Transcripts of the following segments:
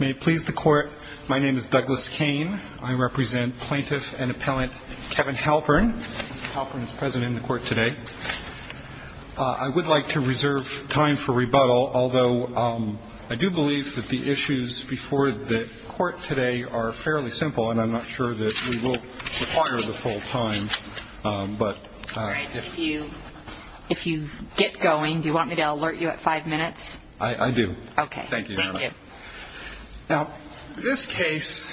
May it please the Court, my name is Douglas Kane. I represent Plaintiff and Appellant Kevin Halpern. Halpern is present in the Court today. I would like to reserve time for rebuttal, although I do believe that the issues before the Court today are fairly simple and I'm not sure that we will require the full time. If you get going, do you want me to alert you at five minutes? I do. Okay. Thank you. Now, this case,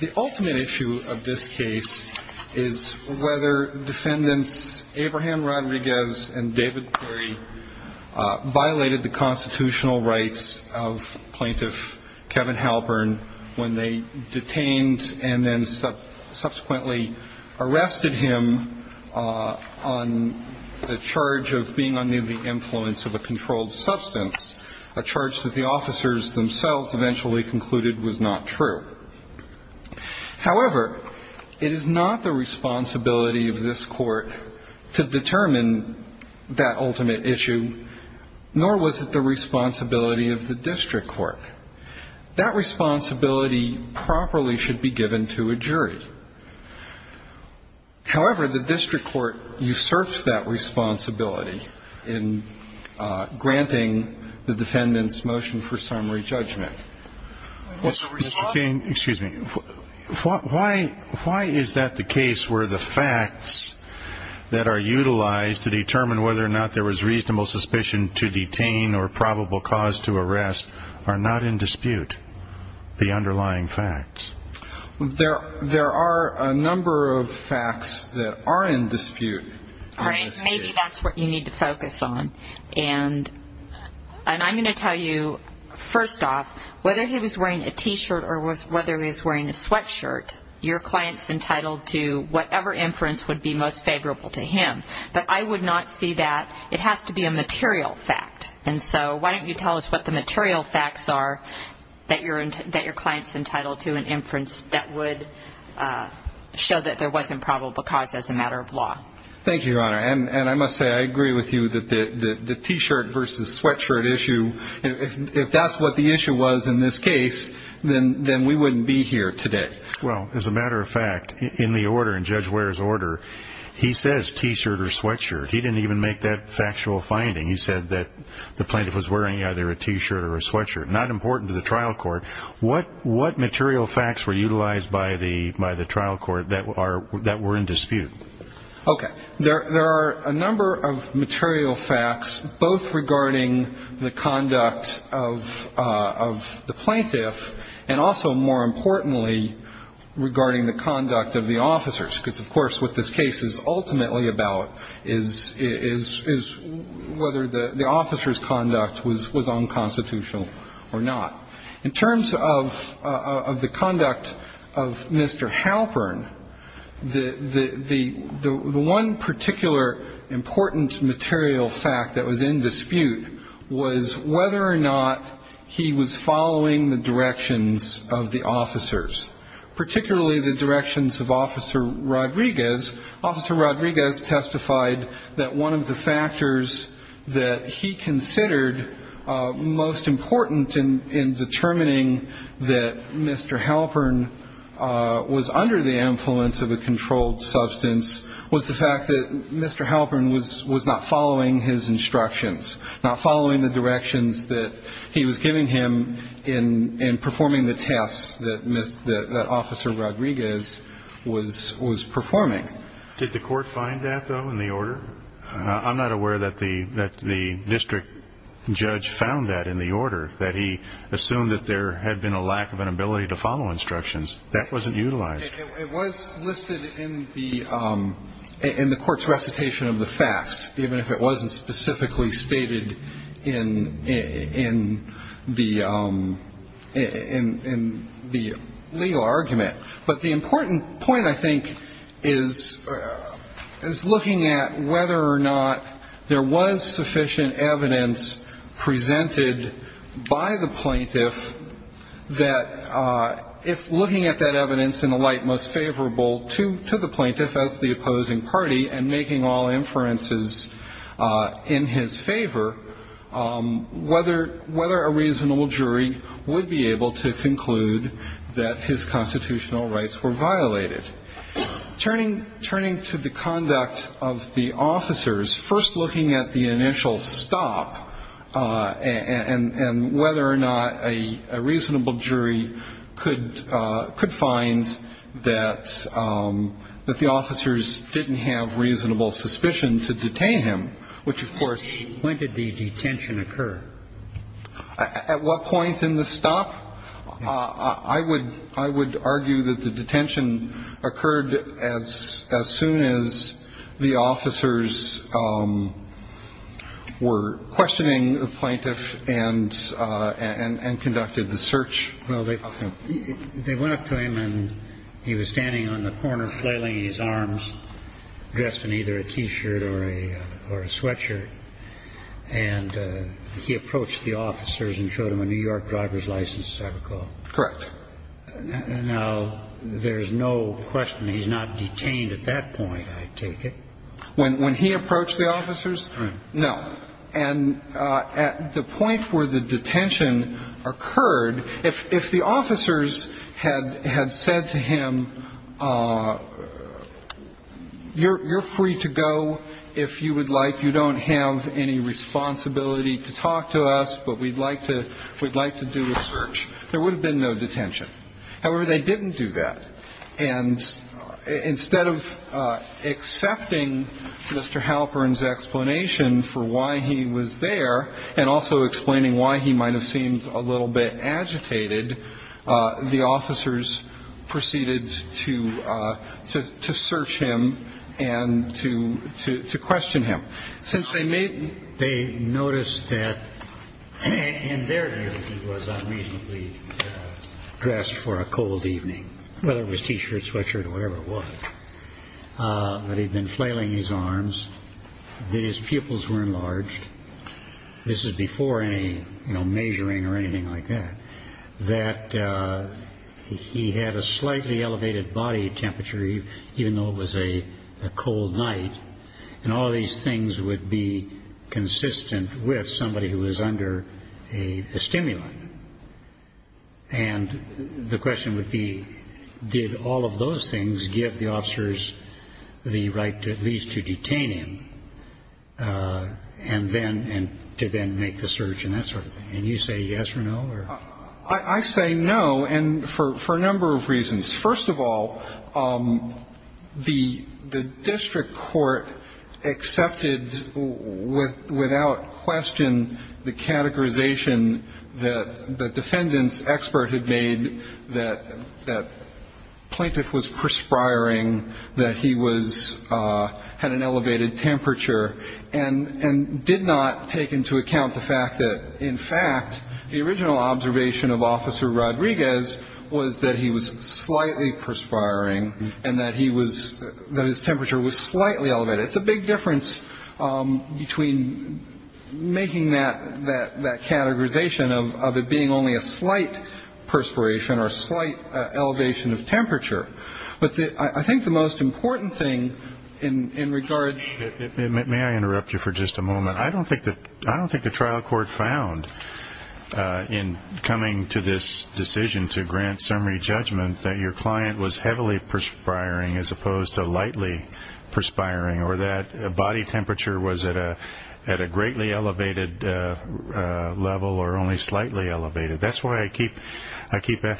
the ultimate issue of this case is whether defendants Abraham Rodriguez and David Perry violated the constitutional rights of Plaintiff Kevin Halpern when they detained and then subsequently arrested him on the charge of being under the influence of a controlled substance. A charge that the officers themselves eventually concluded was not true. However, it is not the responsibility of this Court to determine that ultimate issue, nor was it the responsibility of the district court. That responsibility properly should be given to a jury. However, the district court usurped that responsibility in granting the defendant's motion for summary judgment. Excuse me. Why is that the case where the facts that are utilized to determine whether or not there was reasonable suspicion to detain or probable cause to arrest are not in dispute, the underlying facts? There are a number of facts that are in dispute. All right. Maybe that's what you need to focus on. And I'm going to tell you, first off, whether he was wearing a T-shirt or whether he was wearing a sweatshirt, your client's entitled to whatever inference would be most favorable to him. But I would not see that. It has to be a material fact. And so why don't you tell us what the material facts are that your client's entitled to an inference that would show that there wasn't probable cause as a matter of law? Thank you, Your Honor. And I must say, I agree with you that the T-shirt versus sweatshirt issue, if that's what the issue was in this case, then we wouldn't be here today. Well, as a matter of fact, in the order, in Judge Ware's order, he says T-shirt or sweatshirt. He didn't even make that factual finding. He said that the plaintiff was wearing either a T-shirt or a sweatshirt. Not important to the trial court. What material facts were utilized by the trial court that were in dispute? Okay. There are a number of material facts, both regarding the conduct of the plaintiff and also, more importantly, regarding the conduct of the officers. Because, of course, what this case is ultimately about is whether the officer's conduct was unconstitutional or not. In terms of the conduct of Mr. Halpern, the one particular important material fact that was in dispute was whether or not he was following the directions of the officers, particularly the directions of Officer Rodriguez. Officer Rodriguez testified that one of the factors that he considered most important in determining that Mr. Halpern was under the influence of a controlled substance was the fact that Mr. Halpern was not following his instructions, not following the directions that he was giving him in performing the tests that Officer Rodriguez was performing. Did the court find that, though, in the order? I'm not aware that the district judge found that in the order, that he assumed that there had been a lack of an ability to follow instructions. That wasn't utilized. It was listed in the court's recitation of the facts, even if it wasn't specifically stated in the legal argument. But the important point, I think, is looking at whether or not there was sufficient evidence presented by the plaintiff that if looking at that evidence in the light most favorable to the plaintiff as the opposing party and making all inferences in his favor, whether a reasonable jury would be able to conclude that his constitution was unconstitutional. If the plaintiff's constitution was unconstitutional, the plaintiff's constitutional rights were violated. Turning to the conduct of the officers, first looking at the initial stop and whether or not a reasonable jury could find that the officers didn't have reasonable suspicion to detain him, which, of course. When did the detention occur? At what point in the stop? I would I would argue that the detention occurred as as soon as the officers were questioning the plaintiff and and conducted the search. Well, they they went up to him and he was standing on the corner flailing his arms, dressed in either a T-shirt or a or a sweatshirt, and he approached the officers and showed him a New York driver's license, I recall. Correct. Now, there's no question he's not detained at that point, I take it. When when he approached the officers, no. And at the point where the detention occurred, if if the officers had had said to him, you're you're free to go if you would like. You don't have any responsibility to talk to us, but we'd like to we'd like to do a search. There would have been no detention. However, they didn't do that. And instead of accepting Mr. Halpern's explanation for why he was there and also explaining why he might have seemed a little bit agitated, the officers proceeded to to to search him and to to to question him. Since they made they noticed that in their view, he was unreasonably dressed for a cold evening, whether it was T-shirt, sweatshirt or whatever it was, that he'd been flailing his arms, that his pupils were enlarged. This is before any measuring or anything like that, that he had a slightly elevated body temperature, even though it was a cold night and all these things would be consistent with somebody who was under a stimulant. And the question would be, did all of those things give the officers the right to at least to detain him and then and to then make the search and that sort of thing? And you say yes or no. I say no. And for a number of reasons. First of all, the the district court accepted with without question the categorization that the defendants expert had made that that plaintiff was perspiring, that he was had an elevated temperature and and did not take into account the fact that, in fact, the original observation of Officer Rodriguez was that he was slightly perspiring and that he was that his temperature was slightly elevated. It's a big difference between making that that that categorization of it being only a slight perspiration or slight elevation of temperature. But I think the most important thing in regard. May I interrupt you for just a moment? I don't think that I don't think the trial court found in coming to this decision to grant summary judgment that your client was heavily perspiring as opposed to lightly perspiring or that body temperature was at a at a greatly elevated level or only slightly elevated. That's why I keep I keep the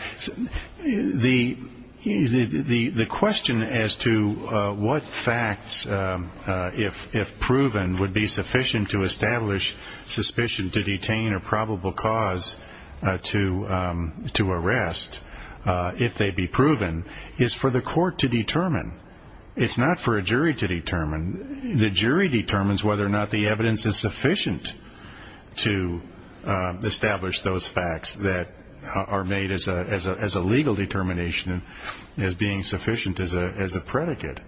the the the question as to what facts, if if proven, would be sufficient to establish suspicion to detain a probable cause to to arrest if they be proven is for the court to determine. It's not for a jury to determine. The jury determines whether or not the evidence is sufficient to establish those facts that are made as a as a as a legal determination, as being sufficient as a as a predicate.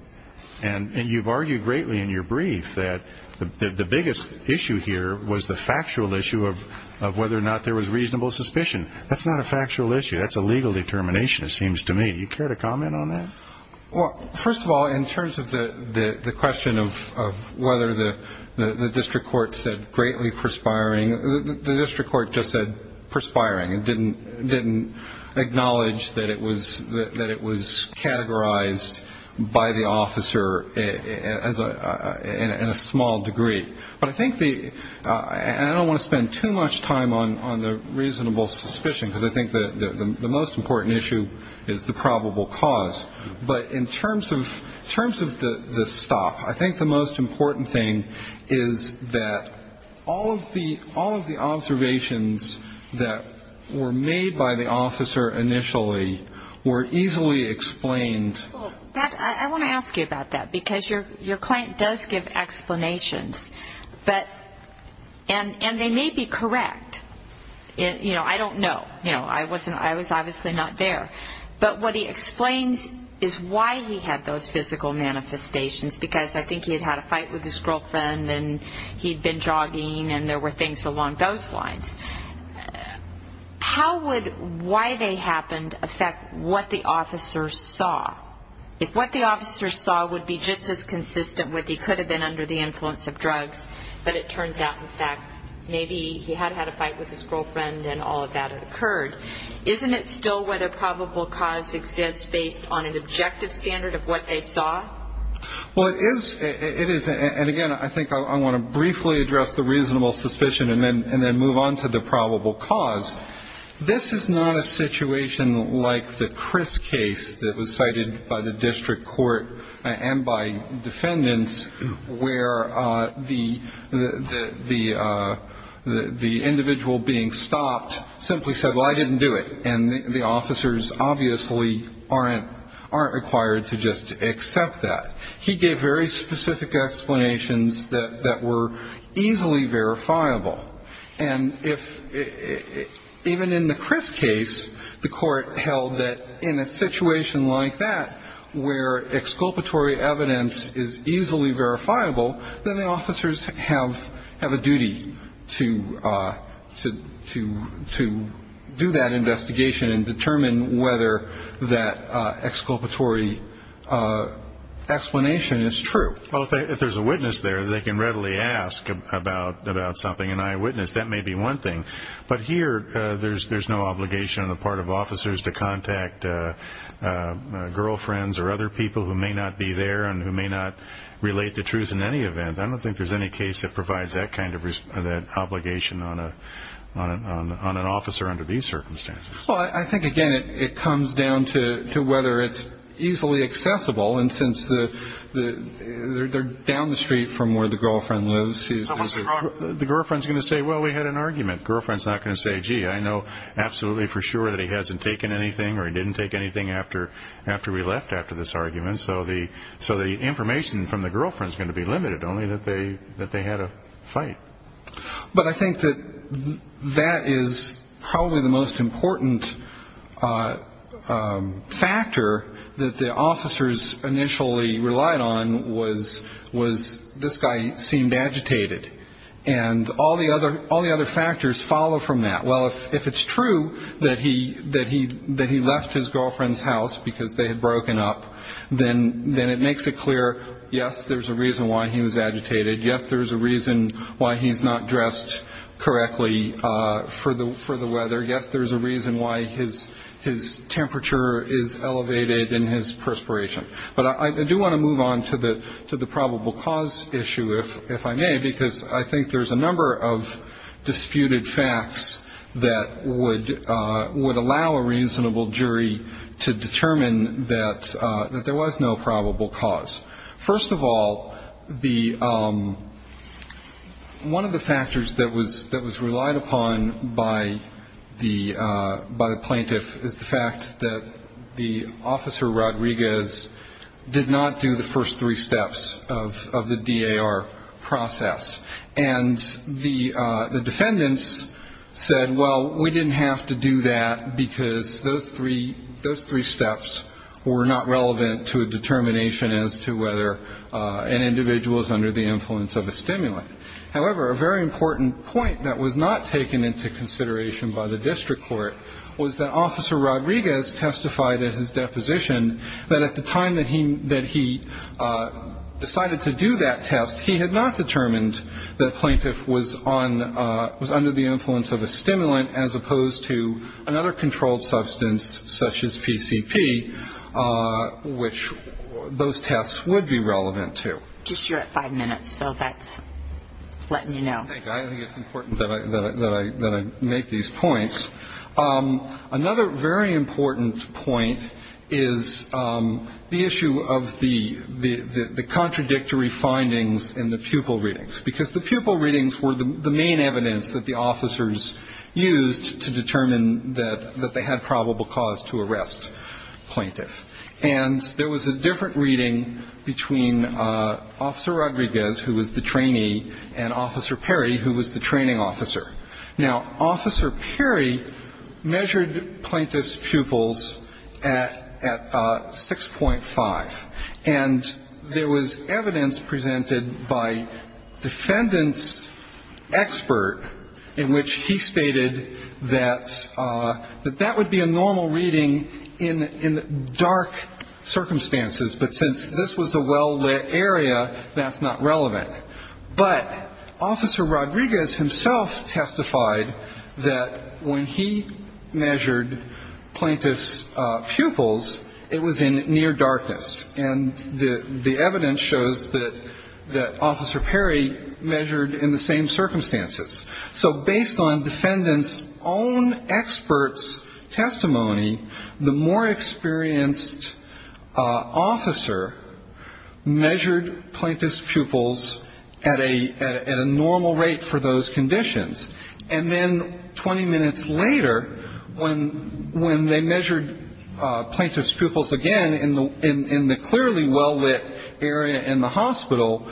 And you've argued greatly in your brief that the biggest issue here was the factual issue of of whether or not there was reasonable suspicion. That's not a factual issue. That's a legal determination. It seems to me you care to comment on that. Well, first of all, in terms of the question of whether the district court said greatly perspiring, the district court just said perspiring and didn't didn't acknowledge that it was that it was categorized by the officer as a in a small degree. But I think the I don't want to spend too much time on on the reasonable suspicion, because I think that the most important issue is the probable cause. But in terms of terms of the stop, I think the most important thing is that all of the all of the observations that were made by the officer initially were easily explained. I want to ask you about that because you're your client does give explanations. But and and they may be correct. You know, I don't know. You know, I wasn't I was obviously not there. But what he explains is why he had those physical manifestations, because I think he had had a fight with his girlfriend and he'd been jogging and there were things along those lines. How would why they happened affect what the officer saw? If what the officer saw would be just as consistent with he could have been under the influence of drugs. But it turns out, in fact, maybe he had had a fight with his girlfriend and all of that occurred. Isn't it still whether probable cause exists based on an objective standard of what they saw? Well, it is. It is. And again, I think I want to briefly address the reasonable suspicion and then and then move on to the probable cause. This is not a situation like the Chris case that was cited by the district court and by defendants, where the the the the individual being stopped simply said, well, I didn't do it. And the officers obviously aren't aren't required to just accept that. He gave very specific explanations that that were easily verifiable. And if even in the Chris case, the court held that in a situation like that, where exculpatory evidence is easily verifiable, then the officers have have a duty to to to to do that investigation and determine whether that exculpatory explanation is true. Well, if there's a witness there, they can readily ask about about something. And I witness that may be one thing. But here there's there's no obligation on the part of officers to contact girlfriends or other people who may not be there and who may not relate the truth in any event. I don't think there's any case that provides that kind of that obligation on a on an officer under these circumstances. Well, I think, again, it comes down to to whether it's easily accessible. And since the the they're down the street from where the girlfriend lives, the girlfriend's going to say, well, we had an argument. Girlfriend's not going to say, gee, I know absolutely for sure that he hasn't taken anything or he didn't take anything after after we left after this argument. So the so the information from the girlfriend's going to be limited only that they that they had a fight. But I think that that is probably the most important factor that the officers initially relied on was was this guy seemed agitated. And all the other all the other factors follow from that. Well, if it's true that he that he that he left his girlfriend's house because they had broken up, then then it makes it clear. Yes, there's a reason why he was agitated. Yes, there's a reason why he's not dressed correctly for the for the weather. Yes, there is a reason why his his temperature is elevated in his perspiration. But I do want to move on to the to the probable cause issue, if if I may, because I think there's a number of disputed facts that would would allow a reasonable jury to determine that that there was no probable cause. First of all, the one of the factors that was that was relied upon by the by the plaintiff is the fact that the officer, Rodriguez did not do the first three steps of the D.A.R. process. And the defendants said, well, we didn't have to do that because those three, those three steps were not relevant to a determination as to whether an individual is under the influence of a stimulant. However, a very important point that was not taken into consideration by the district court was that Officer Rodriguez testified at his deposition that at the time that he that he decided to do that test, he had not determined that plaintiff was on was under the influence of a stimulant, as opposed to another controlled substance such as PCP, which those tests would be relevant to. Just you're at five minutes. So that's letting you know. I think it's important that I make these points. Another very important point is the issue of the the contradictory findings in the pupil readings, because the pupil readings were the main evidence that the officers used to determine that that they had probable cause to arrest plaintiff. And there was a different reading between Officer Rodriguez, who was the trainee, and Officer Perry, who was the training officer. Now, Officer Perry measured plaintiff's pupils at 6.5, and there was evidence presented by defendant's expert in which he stated that that would be a normal reading in dark circumstances. But since this was a well-lit area, that's not relevant. But Officer Rodriguez himself testified that when he measured plaintiff's pupils, it was in near darkness. And the evidence shows that Officer Perry measured in the same circumstances. So based on defendant's own expert's testimony, the more experienced officer measured plaintiff's pupils at a normal rate for those conditions. And then 20 minutes later, when they measured plaintiff's pupils again in the clearly well-lit area in the hospital,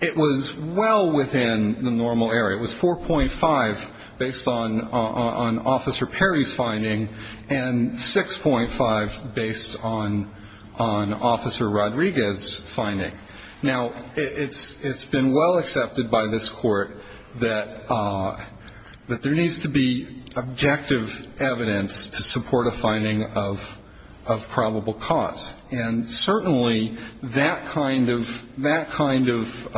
it was well within the normal area. It was 4.5 based on Officer Perry's finding and 6.5 based on Officer Rodriguez's finding. Now, it's been well accepted by this Court that there needs to be objective evidence to support a finding of probable cause. And certainly that kind of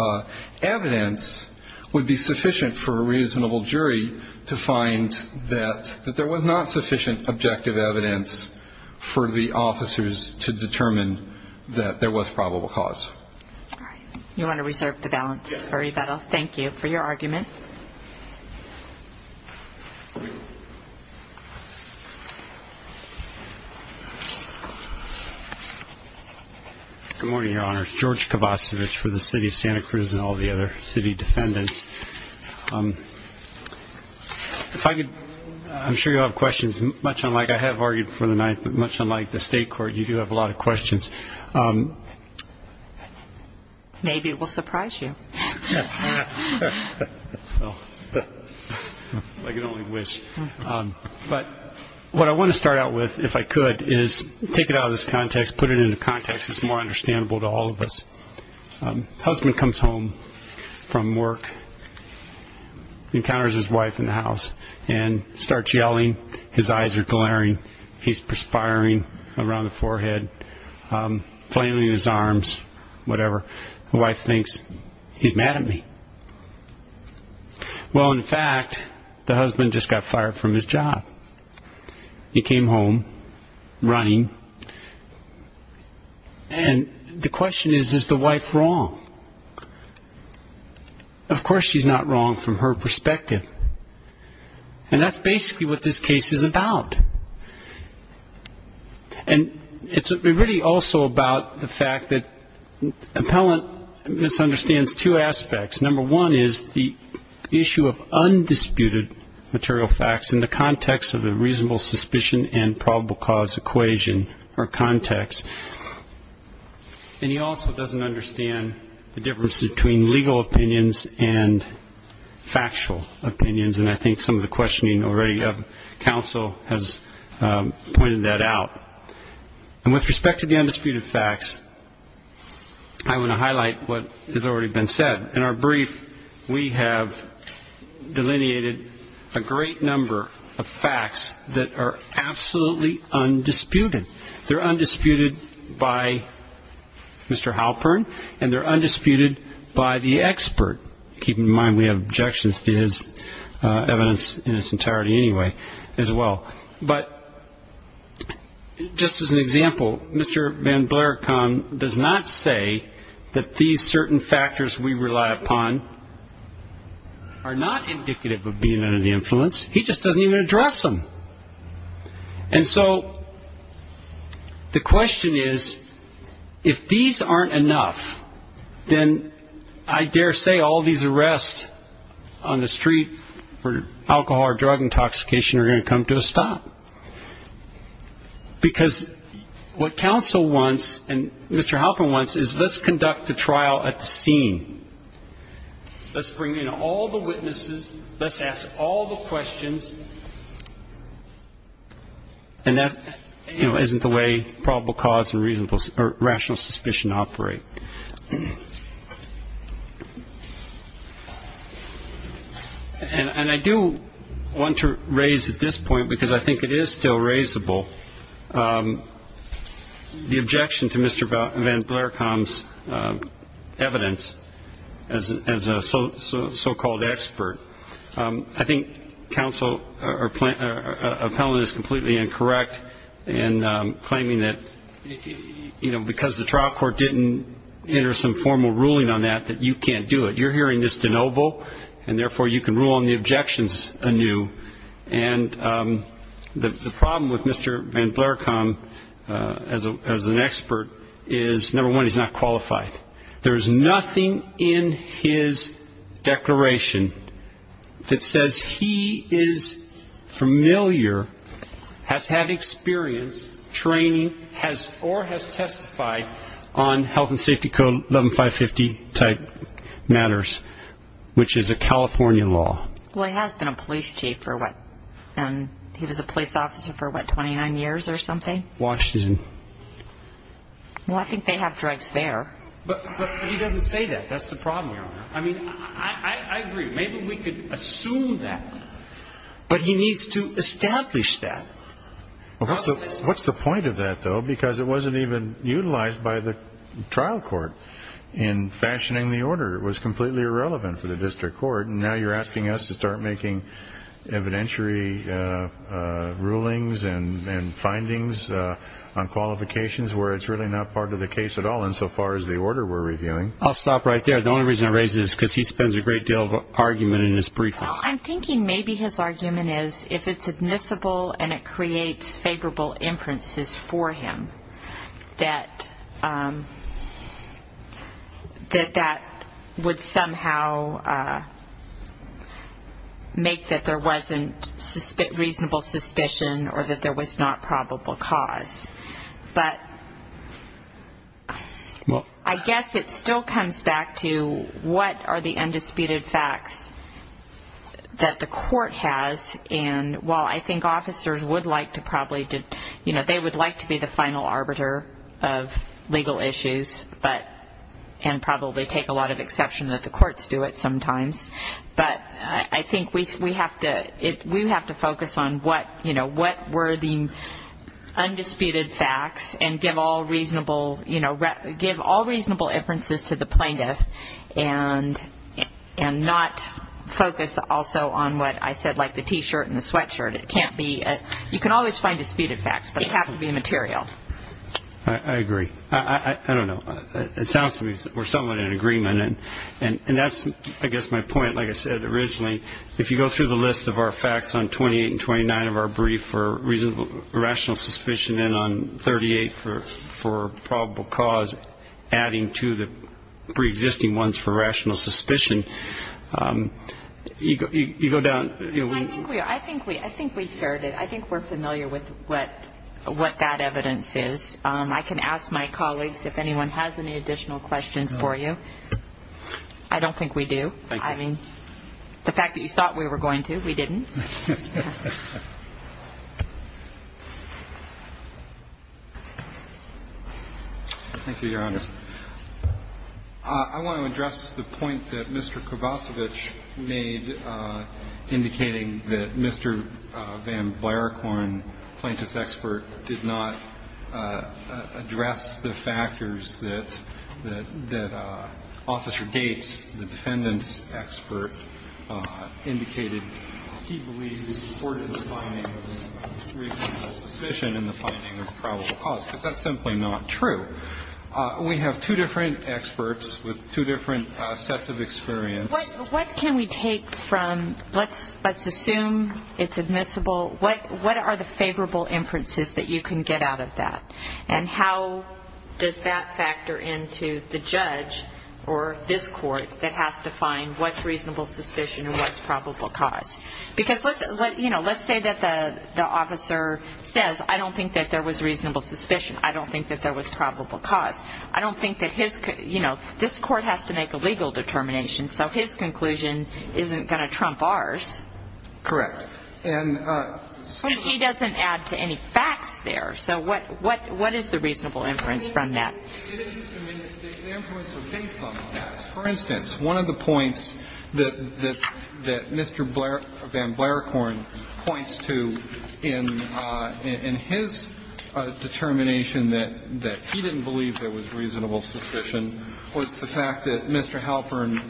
evidence would be sufficient for a reasonable jury to find that there was not sufficient objective evidence for the officers to determine that there was probable cause. All right. You want to reserve the balance for rebuttal? Yes. Thank you for your argument. Good morning, Your Honor. George Kovacevic for the City of Santa Cruz and all the other city defendants. If I could, I'm sure you'll have questions. Much unlike I have argued for the night, but much unlike the State Court, you do have a lot of questions. Maybe it will surprise you. Well, if I could only wish. But what I want to start out with, if I could, is take it out of this context, put it into context. It's more understandable to all of us. Husband comes home from work, encounters his wife in the house, and starts yelling. His eyes are glaring. He's perspiring around the forehead, flailing his arms, whatever. The wife thinks, he's mad at me. Well, in fact, the husband just got fired from his job. He came home running, and the question is, is the wife wrong? Of course she's not wrong from her perspective. And that's basically what this case is about. And it's really also about the fact that an appellant misunderstands two aspects. Number one is the issue of undisputed material facts in the context of a reasonable suspicion and probable cause equation or context. And he also doesn't understand the difference between legal opinions and factual opinions, and I think some of the questioning already of counsel has pointed that out. And with respect to the undisputed facts, I want to highlight what has already been said. In our brief, we have delineated a great number of facts that are absolutely undisputed. They're undisputed by Mr. Halpern, and they're undisputed by the expert. Keep in mind, we have objections to his evidence in its entirety anyway as well. But just as an example, Mr. Van Blarecon does not say that these certain factors we rely upon are not indicative of being under the influence. He just doesn't even address them. And so the question is, if these aren't enough, then I dare say all these arrests on the street for alcohol or drug intoxication are going to come to a stop. Because what counsel wants and Mr. Halpern wants is let's conduct the trial at the scene. Let's bring in all the witnesses. Let's ask all the questions. And that, you know, isn't the way probable cause and reasonable or rational suspicion operate. And I do want to raise at this point, because I think it is still raisable, the objection to Mr. Van Blarecon's evidence as a so-called expert. I think counsel appellant is completely incorrect in claiming that, you know, because the trial court didn't enter some formal ruling on that, that you can't do it. You're hearing this de novo, and therefore you can rule on the objections anew. And the problem with Mr. Van Blarecon as an expert is, number one, he's not qualified. There is nothing in his declaration that says he is familiar, has had experience, training, or has testified on health and safety code 11-550 type matters, which is a California law. Well, he has been a police chief for what? He was a police officer for what, 29 years or something? Washington. Well, I think they have drugs there. But he doesn't say that. That's the problem, Your Honor. I mean, I agree. Maybe we could assume that. But he needs to establish that. What's the point of that, though? Because it wasn't even utilized by the trial court in fashioning the order. It was completely irrelevant for the district court. And now you're asking us to start making evidentiary rulings and findings on qualifications where it's really not part of the case at all insofar as the order we're reviewing. I'll stop right there. The only reason I raise this is because he spends a great deal of argument in his briefing. Well, I'm thinking maybe his argument is, if it's admissible and it creates favorable inferences for him, that that would somehow make that there wasn't reasonable suspicion or that there was not probable cause. But I guess it still comes back to what are the undisputed facts that the court has. And while I think officers would like to probably be the final arbiter of legal issues and probably take a lot of exception that the courts do it sometimes, but I think we have to focus on what were the undisputed facts and give all reasonable inferences to the plaintiff and not focus also on what I said, like the T-shirt and the sweatshirt. It can't be you can always find disputed facts, but it has to be material. I agree. I don't know. It sounds to me we're somewhat in agreement. And that's, I guess, my point. Like I said originally, if you go through the list of our facts on 28 and 29 of our brief rational suspicion and on 38 for probable cause, adding to the preexisting ones for rational suspicion, you go down. I think we heard it. I think we're familiar with what that evidence is. I can ask my colleagues if anyone has any additional questions for you. I don't think we do. I mean, the fact that you thought we were going to, we didn't. Thank you, Your Honor. I want to address the point that Mr. Kovacevic made indicating that Mr. Van Blaricorn, plaintiff's expert, did not address the factors that Officer Gates, the defendant's expert, indicated he believed the court is finding reasonable suspicion in the finding of probable cause, because that's simply not true. We have two different experts with two different sets of experience. What can we take from, let's assume it's admissible, what are the favorable inferences that you can get out of that? And how does that factor into the judge or this court that has to find what's reasonable suspicion and what's probable cause? Because let's say that the officer says, I don't think that there was reasonable suspicion. I don't think that there was probable cause. I don't think that his, you know, this court has to make a legal determination, so his conclusion isn't going to trump ours. Correct. And excuse me. But he doesn't add to any facts there. So what is the reasonable inference from that? It is, I mean, the inferences are based on facts. For instance, one of the points that Mr. Van Blaricorn points to in his determination that he didn't believe there was reasonable suspicion was the fact that Mr. Halpern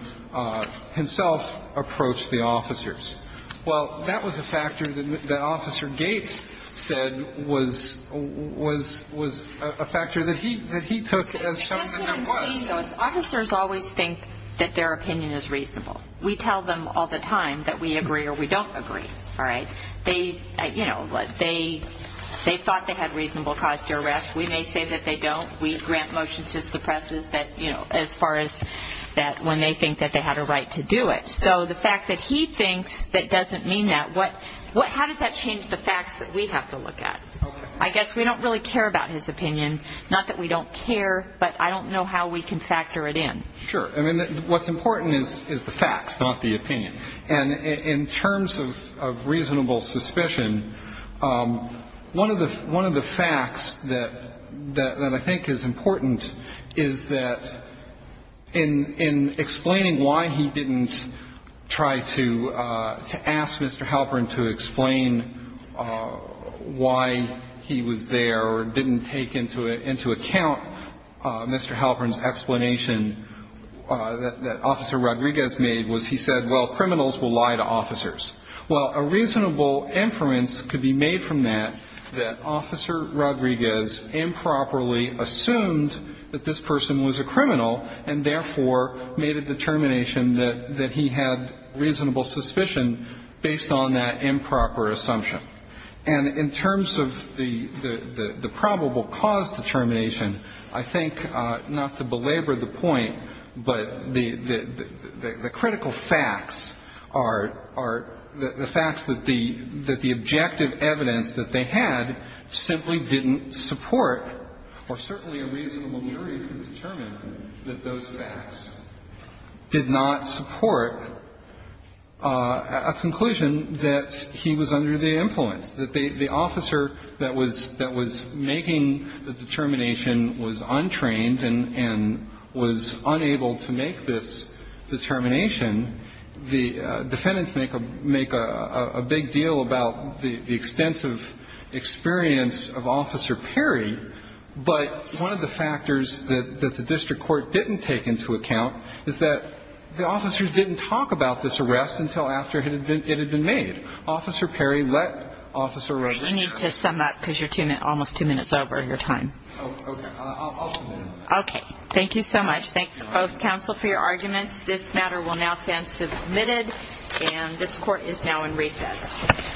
himself approached the officers. Well, that was a factor that Officer Gates said was a factor that he took as something that was. As I'm seeing those, officers always think that their opinion is reasonable. We tell them all the time that we agree or we don't agree. All right? They, you know, they thought they had reasonable cause to arrest. We may say that they don't. We grant motions to suppresses that, you know, as far as that when they think that they had a right to do it. So the fact that he thinks that doesn't mean that, how does that change the facts that we have to look at? I guess we don't really care about his opinion. Not that we don't care, but I don't know how we can factor it in. Sure. I mean, what's important is the facts, not the opinion. And in terms of reasonable suspicion, one of the facts that I think is important is that in explaining why he didn't try to ask Mr. Halpern to explain why he was there or didn't take into account Mr. Halpern's explanation that Officer Rodriguez made was he said, well, criminals will lie to officers. Well, a reasonable inference could be made from that that Officer Rodriguez improperly assumed that this person was a criminal and therefore made a determination that he had reasonable suspicion based on that improper assumption. And in terms of the probable cause determination, I think, not to belabor the point, but the critical facts are the facts that the objective evidence that they had simply didn't support, or certainly a reasonable jury could determine that those facts did not support a conclusion that he was under the influence, that the officer that was making the determination was untrained and was unable to make this determination. The defendants make a big deal about the extensive experience of Officer Perry, but one of the factors that the district court didn't take into account is that the officers didn't talk about this arrest until after it had been made. Officer Perry let Officer Rodriguez. You need to sum up because you're almost two minutes over your time. Okay. Thank you so much. Thank both counsel for your arguments. This matter will now stand submitted, and this court is now in recess.